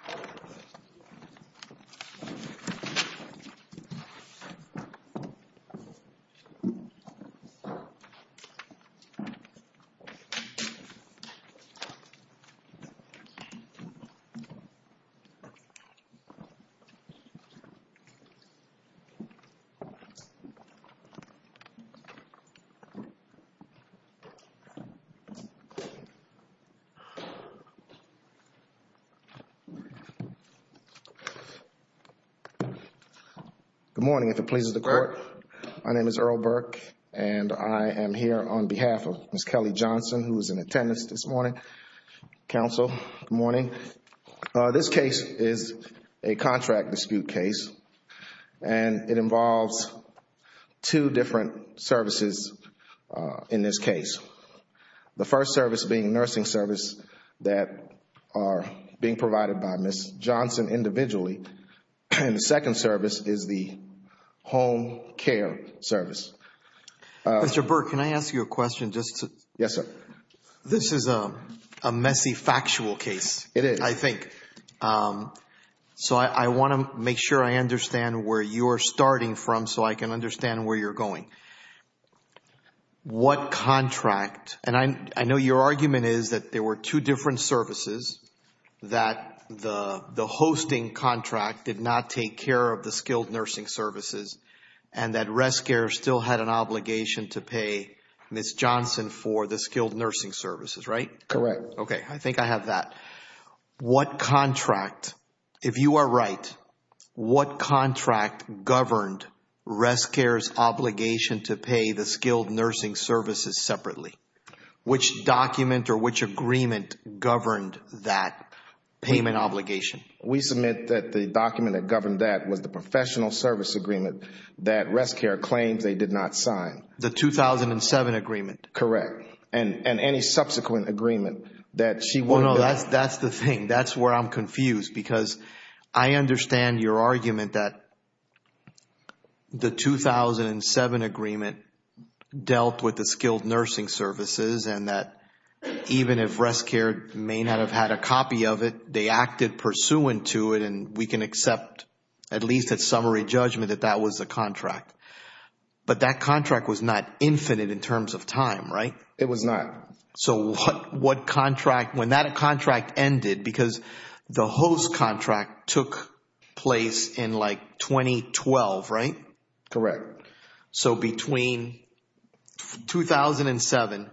close up of Good morning, if it pleases the court. My name is Earl Burke, and I am here on behalf of Ms. Kelly Johnson, who is in attendance this morning. Council, good morning. This case is a contract dispute case, and it involves two different services in this case. The first service being nursing service that are being provided by Ms. Johnson individually. And the second service is the home care service. Mr. Burke, can I ask you a question? Yes, sir. This is a messy factual case, I think. So I want to make sure I understand where you're starting from so I can understand where you're going. What contract, and I know your argument is that there were two different services, that the hosting contract did not take care of the skilled nursing services, and that RestCare still had an obligation to pay Ms. Johnson for the skilled nursing services, right? Correct. Okay, I think I have that. What contract, if you are right, what contract governed RestCare's obligation to pay the skilled nursing services separately? Which document or which agreement governed that payment obligation? We submit that the document that governed that was the professional service agreement that RestCare claims they did not sign. The 2007 agreement? Correct. And any subsequent agreement that she wouldn't have? No, no, that's the thing. That's where I'm confused because I understand your argument that the 2007 agreement dealt with the skilled nursing services, and that even if RestCare may not have had a copy of it, they acted pursuant to it, and we can accept, at least at summary judgment, that that was the contract. But that contract was not infinite in terms of time, right? It was not. So what contract, when that contract ended, because the host contract took place in like 2012, right? Correct. So between 2007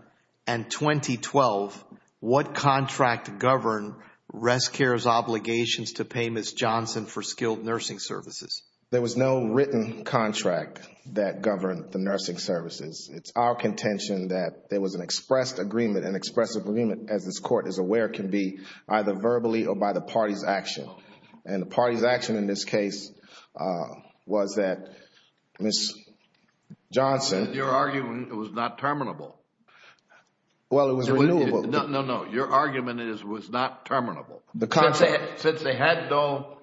and 2012, what contract governed RestCare's obligations to pay Ms. Johnson for skilled nursing services? There was no written contract that governed the nursing services. It's our contention that there was an expressed agreement, and expressed agreement, as this Court is aware, can be either verbally or by the party's action. And the party's action in this case was that Ms. Johnson... Your argument, it was not terminable. Well, it was renewable. No, no, no. Your argument is it was not terminable. The contract... Since they had no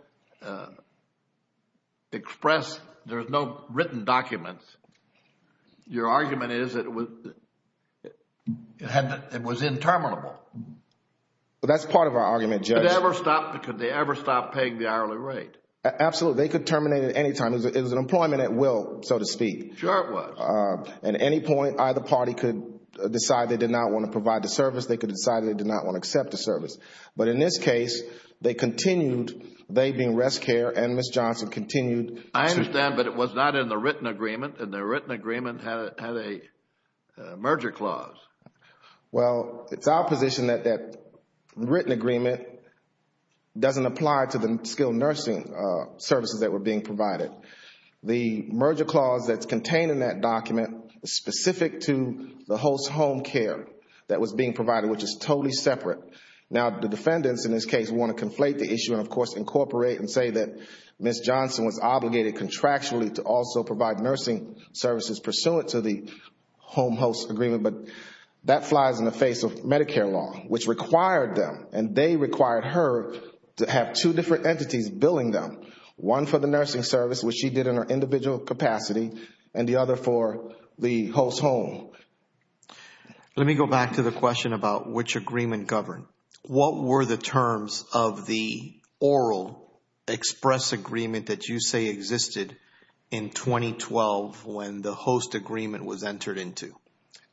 expressed, there was no written documents, your argument is that it was interminable. Well, that's part of our argument, Judge. Could they ever stop paying the hourly rate? Absolutely. They could terminate it at any time. It was an employment at will, so to speak. Sure it was. At any point, either party could decide they did not want to provide the service, they could decide they did not want to accept the service. But in this case, they continued, they being RestCare and Ms. Johnson, continued... I understand, but it was not in the written agreement, and the written agreement had a merger clause. Well, it's our position that that written agreement doesn't apply to the skilled nursing services that were being provided. The merger clause that's contained in that document is specific to the host home care that was being provided, which is totally separate. Now, the defendants in this case want to conflate the issue and, of course, incorporate and say that Ms. Johnson was obligated contractually to also provide nursing services pursuant to the home host agreement. But that flies in the face of Medicare law, which required them. And they required her to have two different entities billing them, one for the nursing service, which she did in her individual capacity, and the other for the host home. Let me go back to the question about which agreement governed. What were the terms of the oral express agreement that you say existed in 2012 when the host agreement was entered into?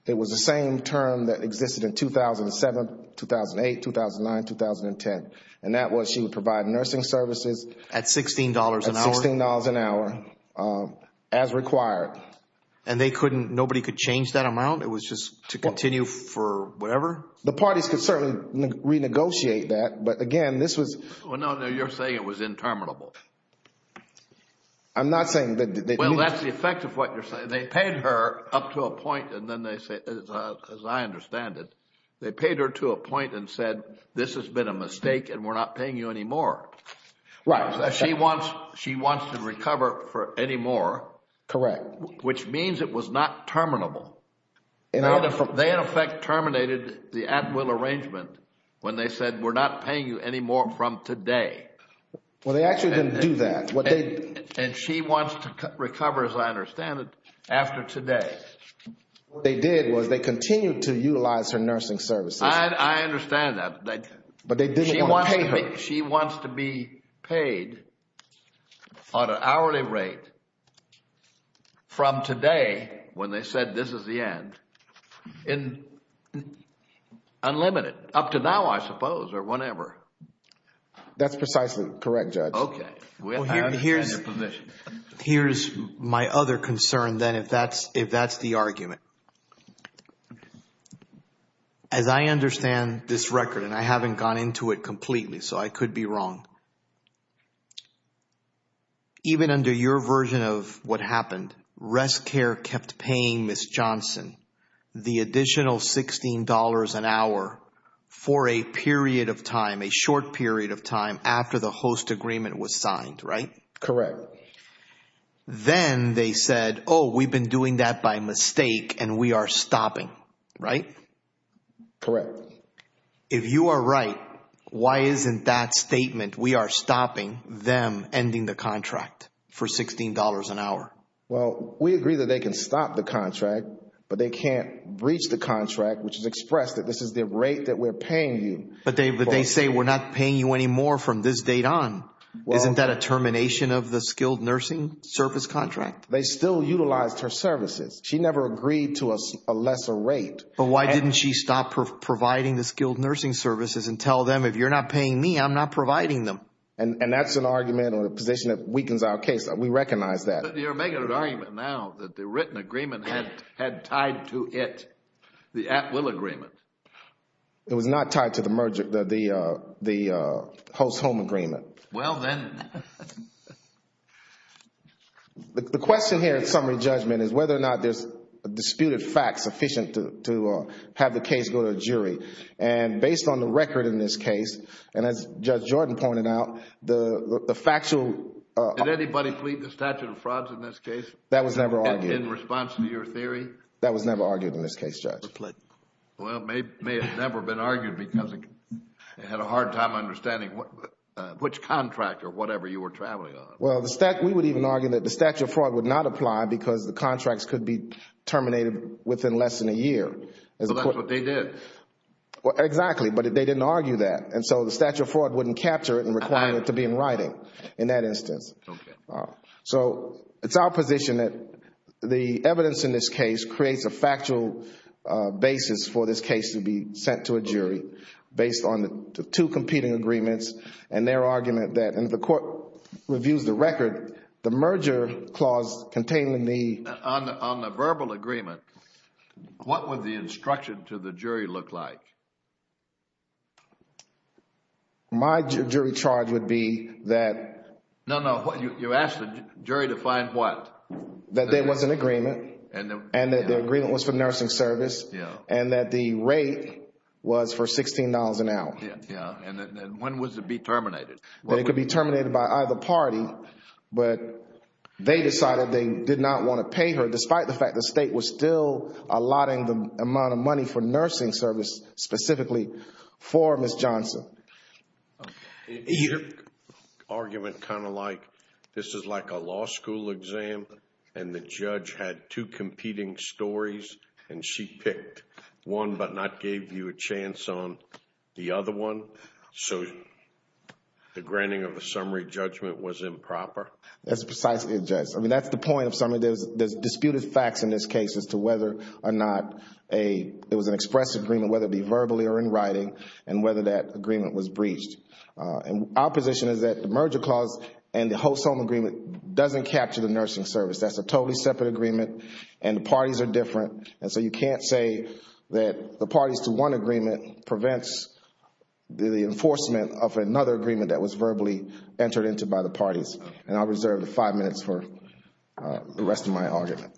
It was the same term that existed in 2007, 2008, 2009, 2010, and that was she would provide nursing services... At $16 an hour? At $16 an hour as required. And nobody could change that amount? It was just to continue for whatever? The parties could certainly renegotiate that, but again, this was... Well, no, you're saying it was interminable. I'm not saying that... Well, that's the effect of what you're saying. They paid her up to a point, and then they say, as I understand it, they paid her to a point and said, this has been a mistake and we're not paying you anymore. Right. She wants to recover for anymore. Correct. Which means it was not terminable. They, in effect, terminated the at-will arrangement when they said, we're not paying you anymore from today. Well, they actually didn't do that. And she wants to recover, as I understand it, after today. What they did was they continued to utilize her nursing services. I understand that. But they didn't want to pay her. She wants to be paid on an hourly rate from today, when they said this is the end, unlimited, up to now, I suppose, or whenever. That's precisely correct, Judge. Okay. Here's my other concern, then, if that's the argument. As I understand this record, and I haven't gone into it completely, so I could be wrong. Even under your version of what happened, Rest Care kept paying Ms. Johnson the additional $16 an hour for a period of time, a short period of time, after the host agreement was signed, right? Correct. Then they said, oh, we've been doing that by mistake, and we are stopping, right? Correct. If you are right, why isn't that statement, we are stopping them ending the contract for $16 an hour? Well, we agree that they can stop the contract, but they can't breach the contract, which is expressed that this is the rate that we're paying you. But they say we're not paying you anymore from this date on. Isn't that a termination of the skilled nursing service contract? They still utilized her services. She never agreed to a lesser rate. But why didn't she stop providing the skilled nursing services and tell them, if you're not paying me, I'm not providing them? And that's an argument or a position that weakens our case. We recognize that. You're making an argument now that the written agreement had tied to it, the at-will agreement. It was not tied to the host-home agreement. Well, then. The question here in summary judgment is whether or not there's disputed facts sufficient to have the case go to a jury. And based on the record in this case, and as Judge Jordan pointed out, the factual Did anybody plead the statute of frauds in this case? That was never argued. In response to your theory? That was never argued in this case, Judge. Well, it may have never been argued because it had a hard time understanding which contract or whatever you were traveling on. Well, we would even argue that the statute of fraud would not apply because the contracts could be terminated within less than a year. So that's what they did. Exactly, but they didn't argue that. And so the statute of fraud wouldn't capture it and require it to be in writing. In that instance. Okay. So it's our position that the evidence in this case creates a factual basis for this case to be sent to a jury based on the two competing agreements and their argument that if the court reviews the record, the merger clause containing the On the verbal agreement, what would the instruction to the jury look like? My jury charge would be that No, no. You asked the jury to find what? That there was an agreement and that the agreement was for nursing service and that the rate was for $16 an hour. Yeah. And when was it be terminated? It could be terminated by either party, but they decided they did not want to pay her despite the fact the state was still allotting the amount of money for nursing service specifically for Ms. Johnson. Is your argument kind of like this is like a law school exam and the judge had two competing stories and she picked one but not gave you a chance on the other one? So the granting of a summary judgment was improper? That's precisely it, Judge. I mean, that's the point of summary. There's disputed facts in this case as to whether or not it was an express agreement, whether it be verbally or in writing, and whether that agreement was breached. And our position is that the merger clause and the host home agreement doesn't capture the nursing service. That's a totally separate agreement and the parties are different, and so you can't say that the parties to one agreement prevents the enforcement of another agreement that was verbally entered into by the parties. And I'll reserve the five minutes for the rest of my argument.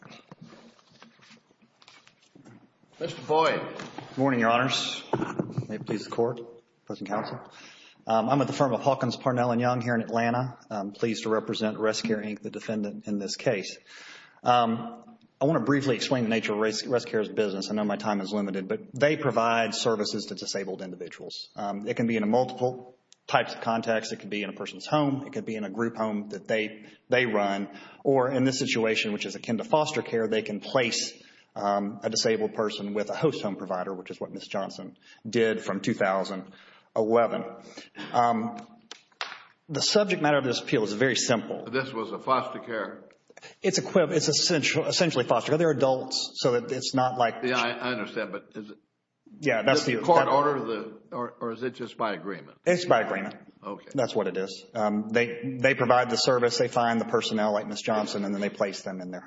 Mr. Boyd. Good morning, Your Honors. May it please the Court, President Counsel. I'm with the firm of Hawkins, Parnell & Young here in Atlanta. I'm pleased to represent ResCare, Inc., the defendant in this case. I want to briefly explain the nature of ResCare's business. I know my time is limited, but they provide services to disabled individuals. It can be in multiple types of contexts. It could be in a person's home. It could be in a group home that they run. Or in this situation, which is akin to foster care, they can place a disabled person with a host home provider, which is what Ms. Johnson did from 2011. The subject matter of this appeal is very simple. This was a foster care? It's essentially foster care. They're adults, so it's not like. I understand, but is it in court order or is it just by agreement? It's by agreement. Okay. That's what it is. They provide the service. They find the personnel like Ms. Johnson, and then they place them in their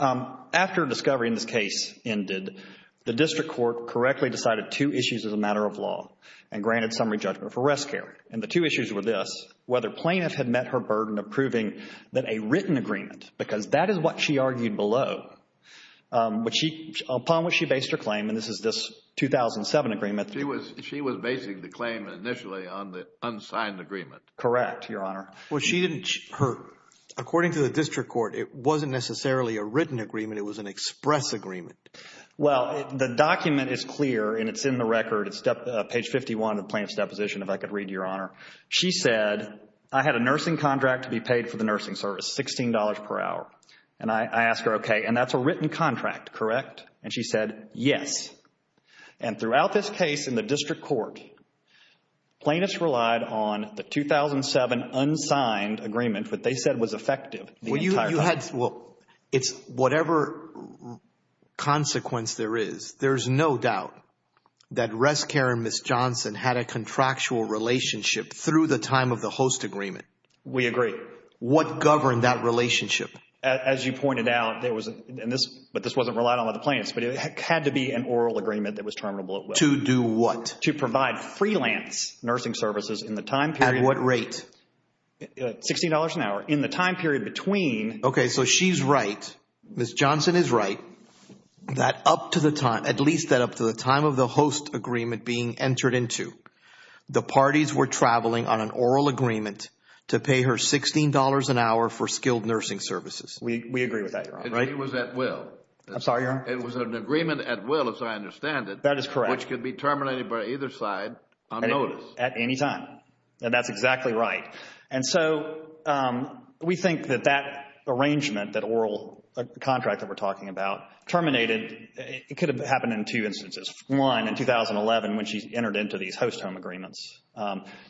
home. After discovery in this case ended, the district court correctly decided two issues as a matter of law and granted summary judgment for ResCare. And the two issues were this, whether plaintiff had met her burden of proving that a written agreement, because that is what she argued below, upon which she based her claim, and this is this 2007 agreement. She was basing the claim initially on the unsigned agreement. Correct, Your Honor. According to the district court, it wasn't necessarily a written agreement. It was an express agreement. Well, the document is clear, and it's in the record. It's page 51 of the plaintiff's deposition, if I could read, Your Honor. She said, I had a nursing contract to be paid for the nursing service, $16 per hour. And I asked her, okay, and that's a written contract, correct? And she said, yes. And throughout this case in the district court, plaintiffs relied on the 2007 unsigned agreement, what they said was effective. Well, it's whatever consequence there is. There's no doubt that ResCare and Ms. Johnson had a contractual relationship through the time of the host agreement. We agree. What governed that relationship? As you pointed out, there was, but this wasn't relied on by the plaintiffs, but it had to be an oral agreement that was terminable at will. To do what? To provide freelance nursing services in the time period. At what rate? $16 an hour. In the time period between. Okay, so she's right, Ms. Johnson is right, that up to the time, at least that up to the time of the host agreement being entered into, the parties were traveling on an oral agreement to pay her $16 an hour for skilled nursing services. We agree with that, Your Honor. It was at will. I'm sorry, Your Honor. It was an agreement at will, as I understand it. That is correct. Which could be terminated by either side on notice. At any time, and that's exactly right. And so we think that that arrangement, that oral contract that we're talking about, terminated, it could have happened in two instances. One, in 2011 when she entered into these host home agreements,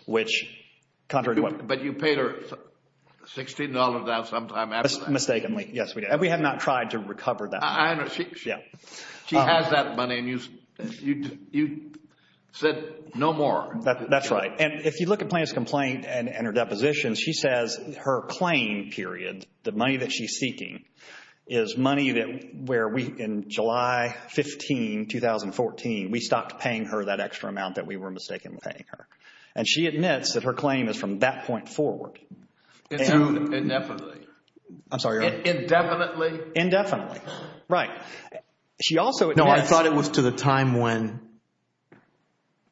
which contrary to what. But you paid her $16 an hour sometime after that. Mistakenly, yes, we did. We tried to recover that. I understand. She has that money and you said no more. That's right. And if you look at Plaintiff's complaint and her depositions, she says her claim period, the money that she's seeking, is money that where we, in July 15, 2014, we stopped paying her that extra amount that we were mistaken with paying her. And she admits that her claim is from that point forward. Indefinitely. I'm sorry, Your Honor. Indefinitely? Indefinitely. Right. She also admits. No, I thought it was to the time when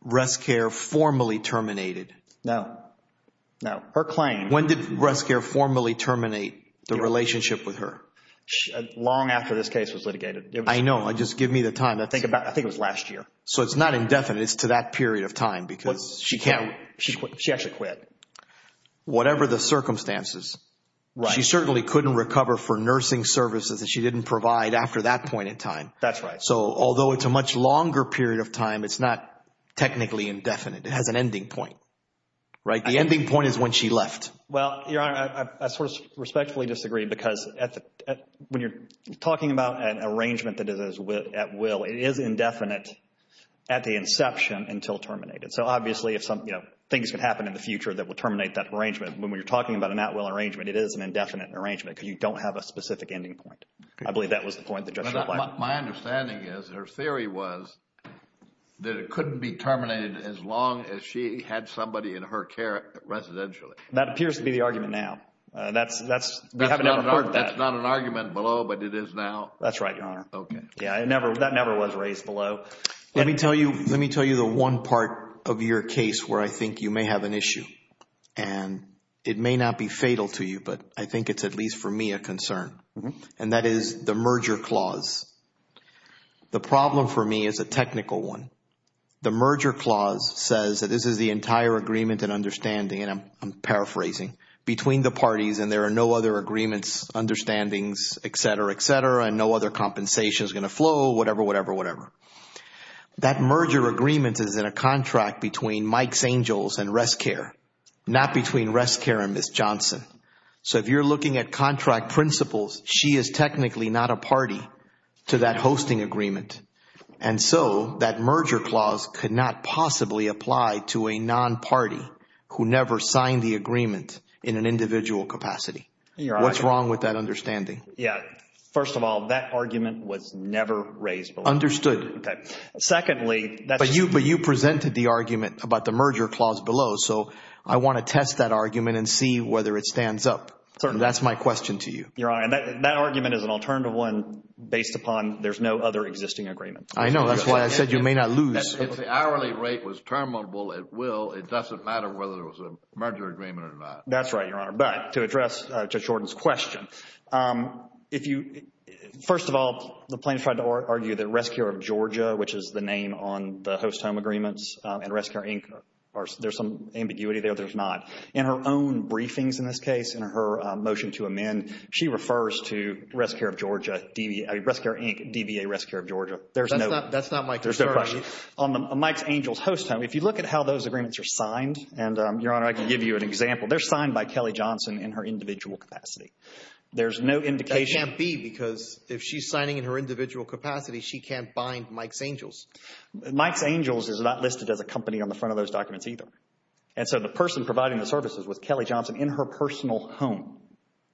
Rest Care formally terminated. No, no. Her claim. When did Rest Care formally terminate the relationship with her? Long after this case was litigated. I know. Just give me the time. I think it was last year. So it's not indefinite. It's to that period of time because she can't. She actually quit. Whatever the circumstances. Right. She certainly couldn't recover for nursing services that she didn't provide after that point in time. That's right. So although it's a much longer period of time, it's not technically indefinite. It has an ending point. Right? The ending point is when she left. Well, Your Honor, I sort of respectfully disagree because when you're talking about an arrangement that is at will, it is indefinite at the inception until terminated. So obviously if something, you know, things could happen in the future that would terminate that arrangement. But when you're talking about an at will arrangement, it is an indefinite arrangement because you don't have a specific ending point. I believe that was the point the judge replied. My understanding is her theory was that it couldn't be terminated as long as she had somebody in her care residentially. That appears to be the argument now. We haven't ever heard that. That's not an argument below, but it is now. That's right, Your Honor. Okay. Yeah, that never was raised below. Let me tell you the one part of your case where I think you may have an issue. And it may not be fatal to you, but I think it's at least for me a concern. And that is the merger clause. The problem for me is a technical one. The merger clause says that this is the entire agreement and understanding, and I'm paraphrasing, between the parties and there are no other agreements, understandings, et cetera, et cetera, and no other compensation is going to flow, whatever, whatever, whatever. That merger agreement is in a contract between Mike St. Joel's and Rest Care, not between Rest Care and Ms. Johnson. So if you're looking at contract principles, she is technically not a party to that hosting agreement. And so that merger clause could not possibly apply to a non-party who never signed the agreement in an individual capacity. What's wrong with that understanding? Yeah. First of all, that argument was never raised below. Understood. Secondly, that's... But you presented the argument about the merger clause below. So I want to test that argument and see whether it stands up. Certainly. That's my question to you. Your Honor, that argument is an alternative one based upon there's no other existing agreement. I know. That's why I said you may not lose. If the hourly rate was terminable, it will. It doesn't matter whether there was a merger agreement or not. That's right, Your Honor. But to address Judge Jordan's question, if you... First of all, the plaintiffs tried to argue that Rest Care of Georgia, which is the name on the host home agreements, and Rest Care, Inc. are... there's some ambiguity there. There's not. In her own briefings in this case, in her motion to amend, she refers to Rest Care of Georgia, I mean, Rest Care, Inc., DVA Rest Care of Georgia. There's no... That's not my concern. There's no question. On Mike Angel's host home, if you look at how those agreements are signed... There's no indication... That can't be because if she's signing in her individual capacity, she can't bind Mike's Angels. Mike's Angels is not listed as a company on the front of those documents either. And so the person providing the services was Kelly Johnson in her personal home.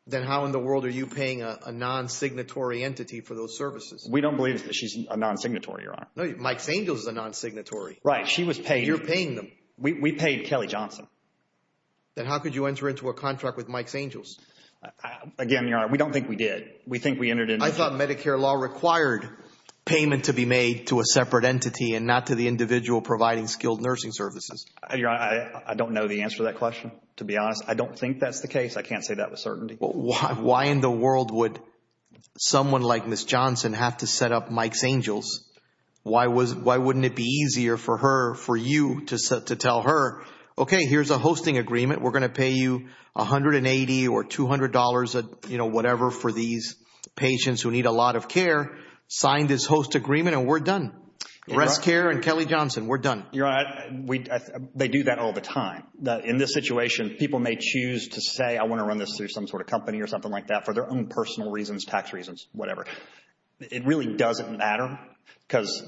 Then how in the world are you paying a non-signatory entity for those services? We don't believe that she's a non-signatory, Your Honor. No, Mike's Angels is a non-signatory. Right. She was paid. You're paying them. We paid Kelly Johnson. Then how could you enter into a contract with Mike's Angels? Again, Your Honor, we don't think we did. We think we entered into... I thought Medicare law required payment to be made to a separate entity and not to the individual providing skilled nursing services. Your Honor, I don't know the answer to that question, to be honest. I don't think that's the case. I can't say that with certainty. Why wouldn't it be easier for her, for you, to tell her, okay, here's a hosting agreement. We're going to pay you $180 or $200, whatever, for these patients who need a lot of care. Sign this host agreement and we're done. Restcare and Kelly Johnson, we're done. Your Honor, they do that all the time. In this situation, people may choose to say, I want to run this through some sort of company or something like that for their own personal reasons, tax reasons, whatever. It really doesn't matter because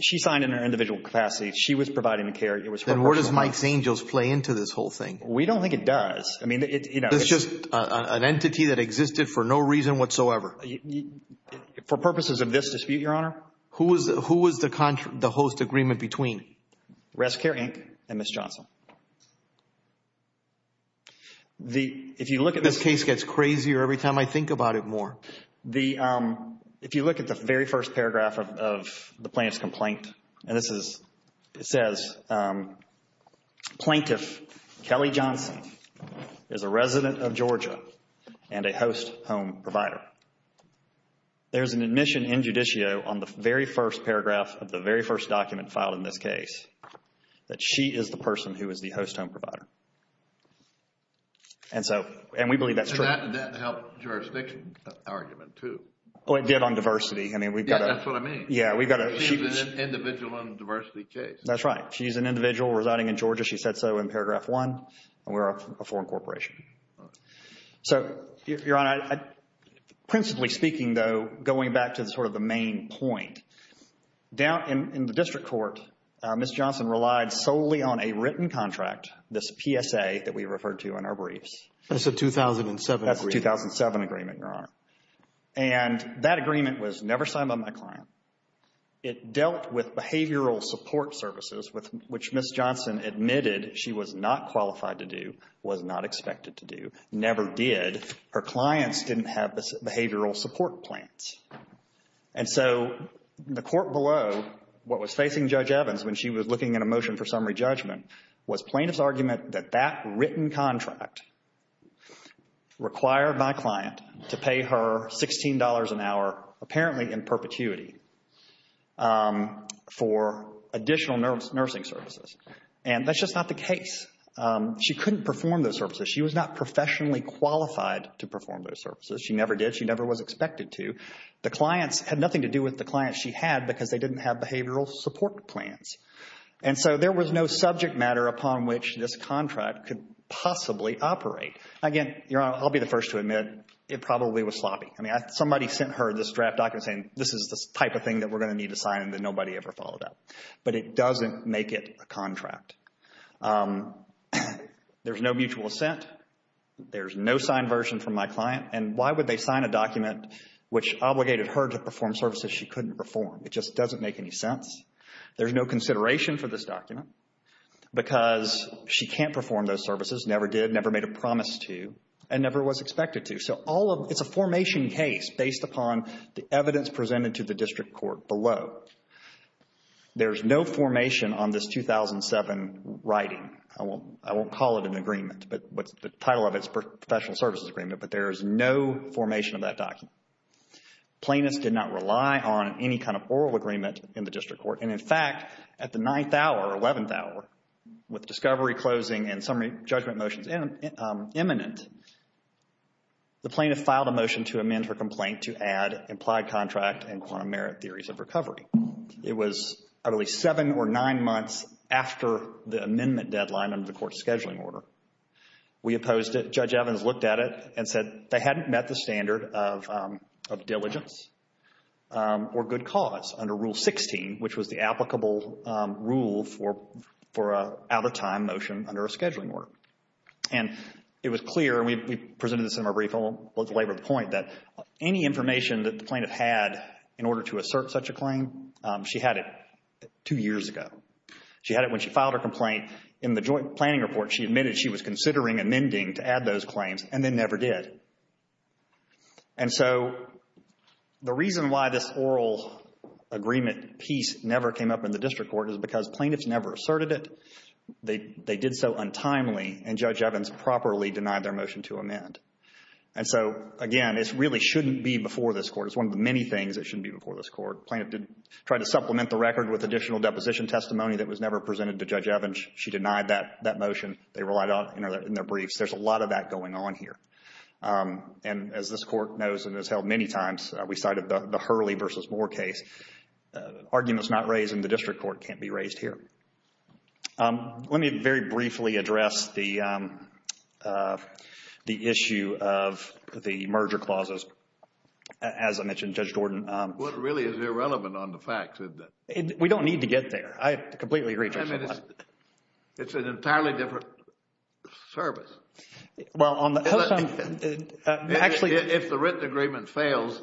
she signed in her individual capacity. She was providing the care. Then where does Mike's Angels play into this whole thing? We don't think it does. It's just an entity that existed for no reason whatsoever. For purposes of this dispute, Your Honor. Who was the host agreement between? Restcare Inc. and Ms. Johnson. This case gets crazier every time I think about it more. If you look at the very first paragraph of the plaintiff's complaint, it says, Plaintiff Kelly Johnson is a resident of Georgia and a host home provider. There's an admission in judicio on the very first paragraph of the very first document filed in this case that she is the person who is the host home provider. We believe that's true. That helped jurisdiction argument too. It did on diversity. That's what I mean. She's an individual on a diversity case. That's right. She's an individual residing in Georgia. She said so in paragraph one. We're a foreign corporation. Your Honor, principally speaking though, going back to the main point, down in the district court, Ms. Johnson relied solely on a written contract, this PSA that we referred to in our briefs. That's a 2007 agreement. That's a 2007 agreement, Your Honor. And that agreement was never signed by my client. It dealt with behavioral support services, which Ms. Johnson admitted she was not qualified to do, was not expected to do, never did. Her clients didn't have behavioral support plans. And so the court below what was facing Judge Evans when she was looking at a motion for summary judgment was plaintiff's argument that that written contract required my client to pay her $16 an hour, apparently in perpetuity, for additional nursing services. And that's just not the case. She couldn't perform those services. She was not professionally qualified to perform those services. She never did. She never was expected to. The clients had nothing to do with the clients she had because they didn't have behavioral support plans. And so there was no subject matter upon which this contract could possibly operate. Again, Your Honor, I'll be the first to admit it probably was sloppy. I mean, somebody sent her this draft document saying, this is the type of thing that we're going to need to sign and that nobody ever followed up. But it doesn't make it a contract. There's no mutual assent. There's no signed version from my client. And why would they sign a document which obligated her to perform services she couldn't perform? It just doesn't make any sense. There's no consideration for this document because she can't perform those services, never did, never made a promise to, and never was expected to. So it's a formation case based upon the evidence presented to the district court below. There's no formation on this 2007 writing. I won't call it an agreement. The title of it is Professional Services Agreement. But there is no formation of that document. Plaintiffs did not rely on any kind of oral agreement in the district court. And, in fact, at the 9th hour or 11th hour, with discovery closing and summary judgment motions imminent, the plaintiff filed a motion to amend her complaint to add implied contract and quantum merit theories of recovery. It was at least seven or nine months after the amendment deadline under the court's scheduling order. We opposed it. Judge Evans looked at it and said they hadn't met the standard of diligence or good cause under Rule 16, which was the applicable rule for an out-of-time motion under a scheduling order. And it was clear, and we presented this in our brief, and I'll let the laborer point, that any information that the plaintiff had in order to assert such a claim, she had it two years ago. She had it when she filed her complaint. In the joint planning report, she admitted she was considering amending to add those claims, and then never did. And so the reason why this oral agreement piece never came up in the district court is because plaintiffs never asserted it. They did so untimely, and Judge Evans properly denied their motion to amend. And so, again, this really shouldn't be before this court. It's one of the many things that shouldn't be before this court. Plaintiff tried to supplement the record with additional deposition testimony that was never presented to Judge Evans. She denied that motion. They relied on it in their briefs. There's a lot of that going on here. And as this court knows and has held many times, we cited the Hurley v. Moore case, arguments not raised in the district court can't be raised here. Let me very briefly address the issue of the merger clauses. As I mentioned, Judge Jordan. Well, it really is irrelevant on the facts, isn't it? We don't need to get there. I completely agree, Judge. I mean, it's an entirely different service. Well, on the host side, actually. If the written agreement fails,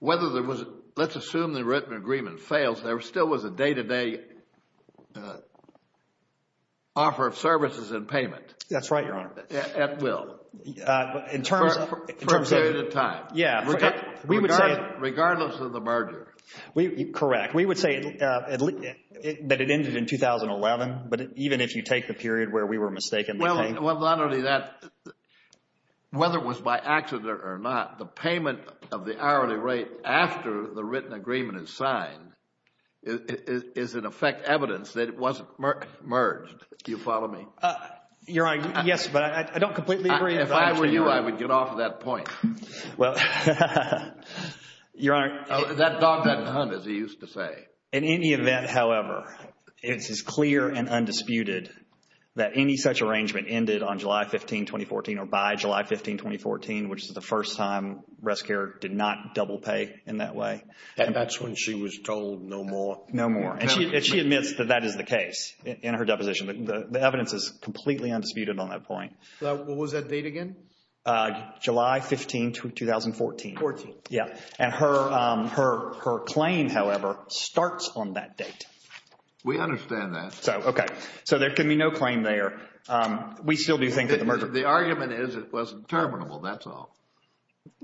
whether there was, let's assume the written agreement fails, there still was a day-to-day offer of services and payment. That's right, Your Honor. At will. For a period of time. Yeah. Regardless of the merger. Correct. We would say that it ended in 2011, but even if you take the period where we were mistaken. Well, not only that, whether it was by accident or not, the payment of the hourly rate after the written agreement is signed is in effect evidence that it wasn't merged. Do you follow me? Your Honor, yes, but I don't completely agree. If I were you, I would get off of that point. Well, Your Honor. That dog doesn't hunt, as he used to say. In any event, however, it is clear and undisputed that any such arrangement ended on July 15, 2014 or by July 15, 2014, which is the first time Rest Care did not double pay in that way. That's when she was told no more. No more. And she admits that that is the case in her deposition. The evidence is completely undisputed on that point. What was that date again? July 15, 2014. And her claim, however, starts on that date. We understand that. Okay. So there can be no claim there. We still do think that the merger. The argument is it wasn't terminable, that's all.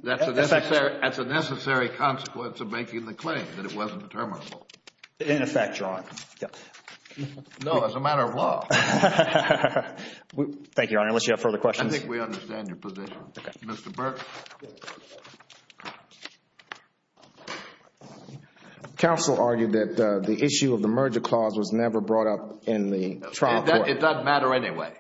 That's a necessary consequence of making the claim, that it wasn't terminable. In effect, Your Honor. No, as a matter of law. Thank you, Your Honor, unless you have further questions. I think we understand your position. Mr. Burke. Counsel argued that the issue of the merger clause was never brought up in the trial court. It doesn't matter anyway.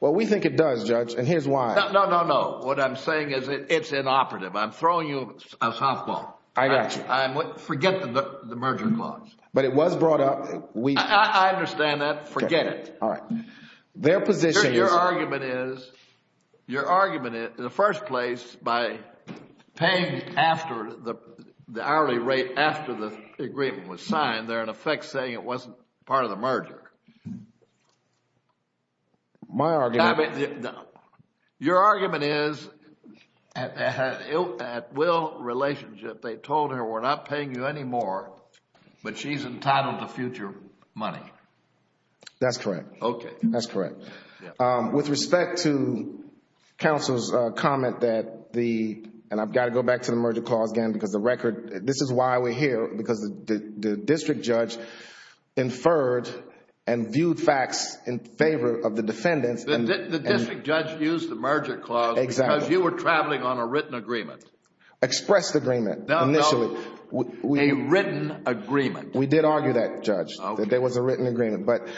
Well, we think it does, Judge, and here's why. No, no, no. What I'm saying is it's inoperative. I'm throwing you a softball. I got you. Forget the merger clause. But it was brought up. I understand that. Forget it. All right. Their position is. Your argument is, in the first place, by paying the hourly rate after the agreement was signed, they're in effect saying it wasn't part of the merger. My argument. Your argument is at Will's relationship, they told her we're not paying you anymore, but she's entitled to future money. That's correct. Okay. That's correct. With respect to counsel's comment that the... and I've got to go back to the merger clause again because the record... this is why we're here because the district judge inferred and viewed facts in favor of the defendants. The district judge used the merger clause because you were traveling on a written agreement. Expressed agreement initially. No, no. A written agreement. We did argue that, Judge, that there was a written agreement. But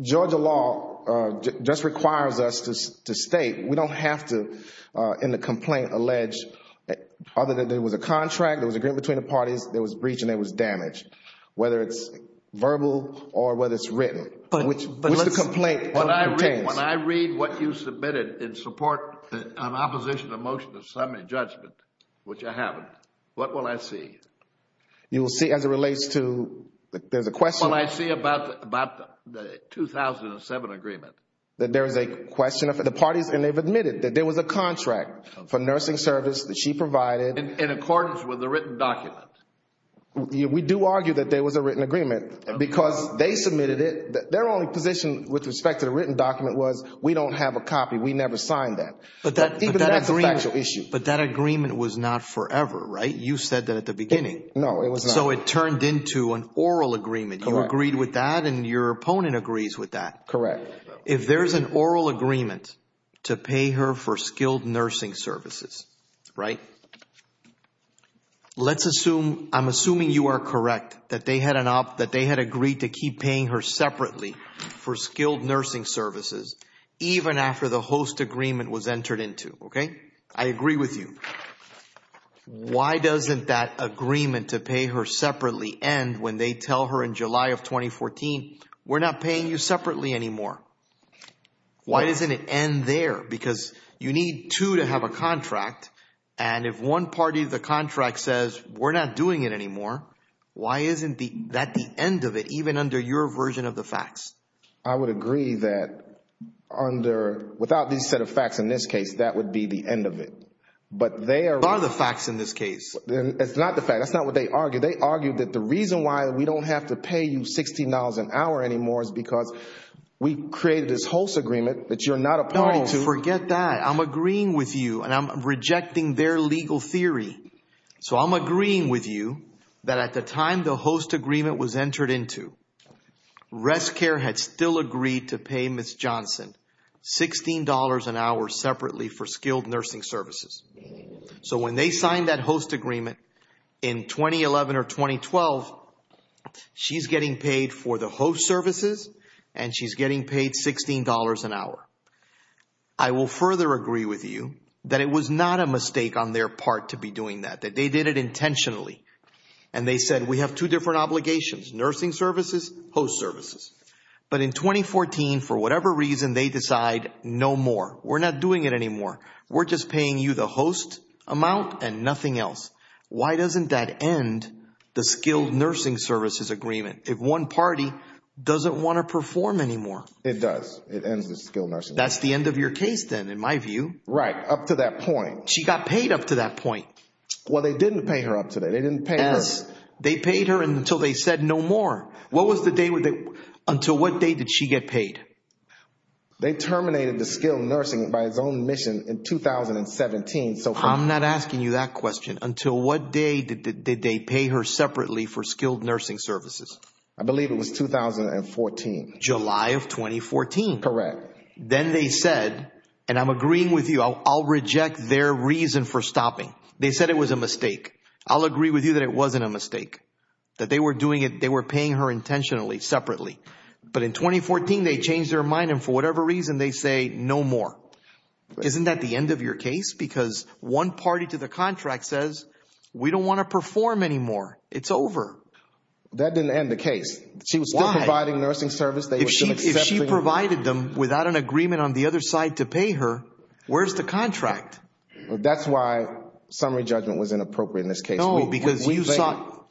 Georgia law just requires us to state. We don't have to, in the complaint, allege other than there was a contract, there was agreement between the parties, there was breach, and there was damage, whether it's verbal or whether it's written, which the complaint contains. When I read what you submitted in support of opposition to the motion of assembly judgment, which I haven't, what will I see? You will see as it relates to... there's a question. What will I see about the 2007 agreement? That there is a question of the parties and they've admitted that there was a contract for nursing service that she provided. In accordance with the written document. We do argue that there was a written agreement because they submitted it. Their only position with respect to the written document was we don't have a copy. We never signed that. But that agreement... Even that's a factual issue. But that agreement was not forever, right? You said that at the beginning. No, it was not. So it turned into an oral agreement. Correct. You agreed with that and your opponent agrees with that. Correct. If there's an oral agreement to pay her for skilled nursing services, right, let's assume... I'm assuming you are correct that they had agreed to keep paying her separately for skilled nursing services, even after the host agreement was entered into, okay? I agree with you. Why doesn't that agreement to pay her separately end when they tell her in July of 2014, we're not paying you separately anymore? Why doesn't it end there? Because you need two to have a contract, and if one party of the contract says, we're not doing it anymore, why isn't that the end of it, even under your version of the facts? I would agree that under... Without these set of facts in this case, that would be the end of it. But they are... What are the facts in this case? It's not the facts. That's not what they argued. They argued that the reason why we don't have to pay you $16 an hour anymore is because we created this host agreement that you're not a party to. No, forget that. I'm agreeing with you, and I'm rejecting their legal theory. So I'm agreeing with you that at the time the host agreement was entered into, RestCare had still agreed to pay Ms. Johnson $16 an hour separately for skilled nursing services. So when they signed that host agreement in 2011 or 2012, she's getting paid for the host services, and she's getting paid $16 an hour. I will further agree with you that it was not a mistake on their part to be doing that, that they did it intentionally. And they said, we have two different obligations, nursing services, host services. But in 2014, for whatever reason, they decide no more. We're not doing it anymore. We're just paying you the host amount and nothing else. Why doesn't that end the skilled nursing services agreement if one party doesn't want to perform anymore? It does. It ends the skilled nursing. That's the end of your case, then, in my view. Right, up to that point. She got paid up to that point. Well, they didn't pay her up to that. They didn't pay her. They paid her until they said no more. Until what day did she get paid? They terminated the skilled nursing by its own mission in 2017. I'm not asking you that question. Until what day did they pay her separately for skilled nursing services? I believe it was 2014. July of 2014. Correct. Then they said, and I'm agreeing with you, I'll reject their reason for stopping. They said it was a mistake. I'll agree with you that it wasn't a mistake, that they were paying her intentionally, separately. But in 2014, they changed their mind, and for whatever reason, they say no more. Isn't that the end of your case? Because one party to the contract says, we don't want to perform anymore. It's over. That didn't end the case. Why? If she provided them without an agreement on the other side to pay her, where's the contract? That's why summary judgment was inappropriate in this case. No, because you saw,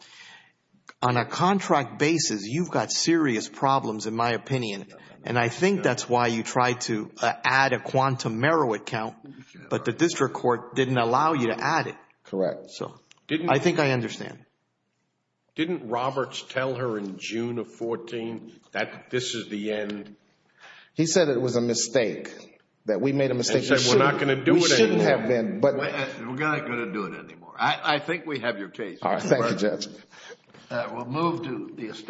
on a contract basis, you've got serious problems, in my opinion. And I think that's why you tried to add a quantum merit count, but the district court didn't allow you to add it. Correct. I think I understand. Didn't Roberts tell her in June of 2014 that this is the end? He said it was a mistake, that we made a mistake. And said we're not going to do it anymore. We shouldn't have been. We're not going to do it anymore. I think we have your case. All right. Thank you, Judge. We'll move to the estate.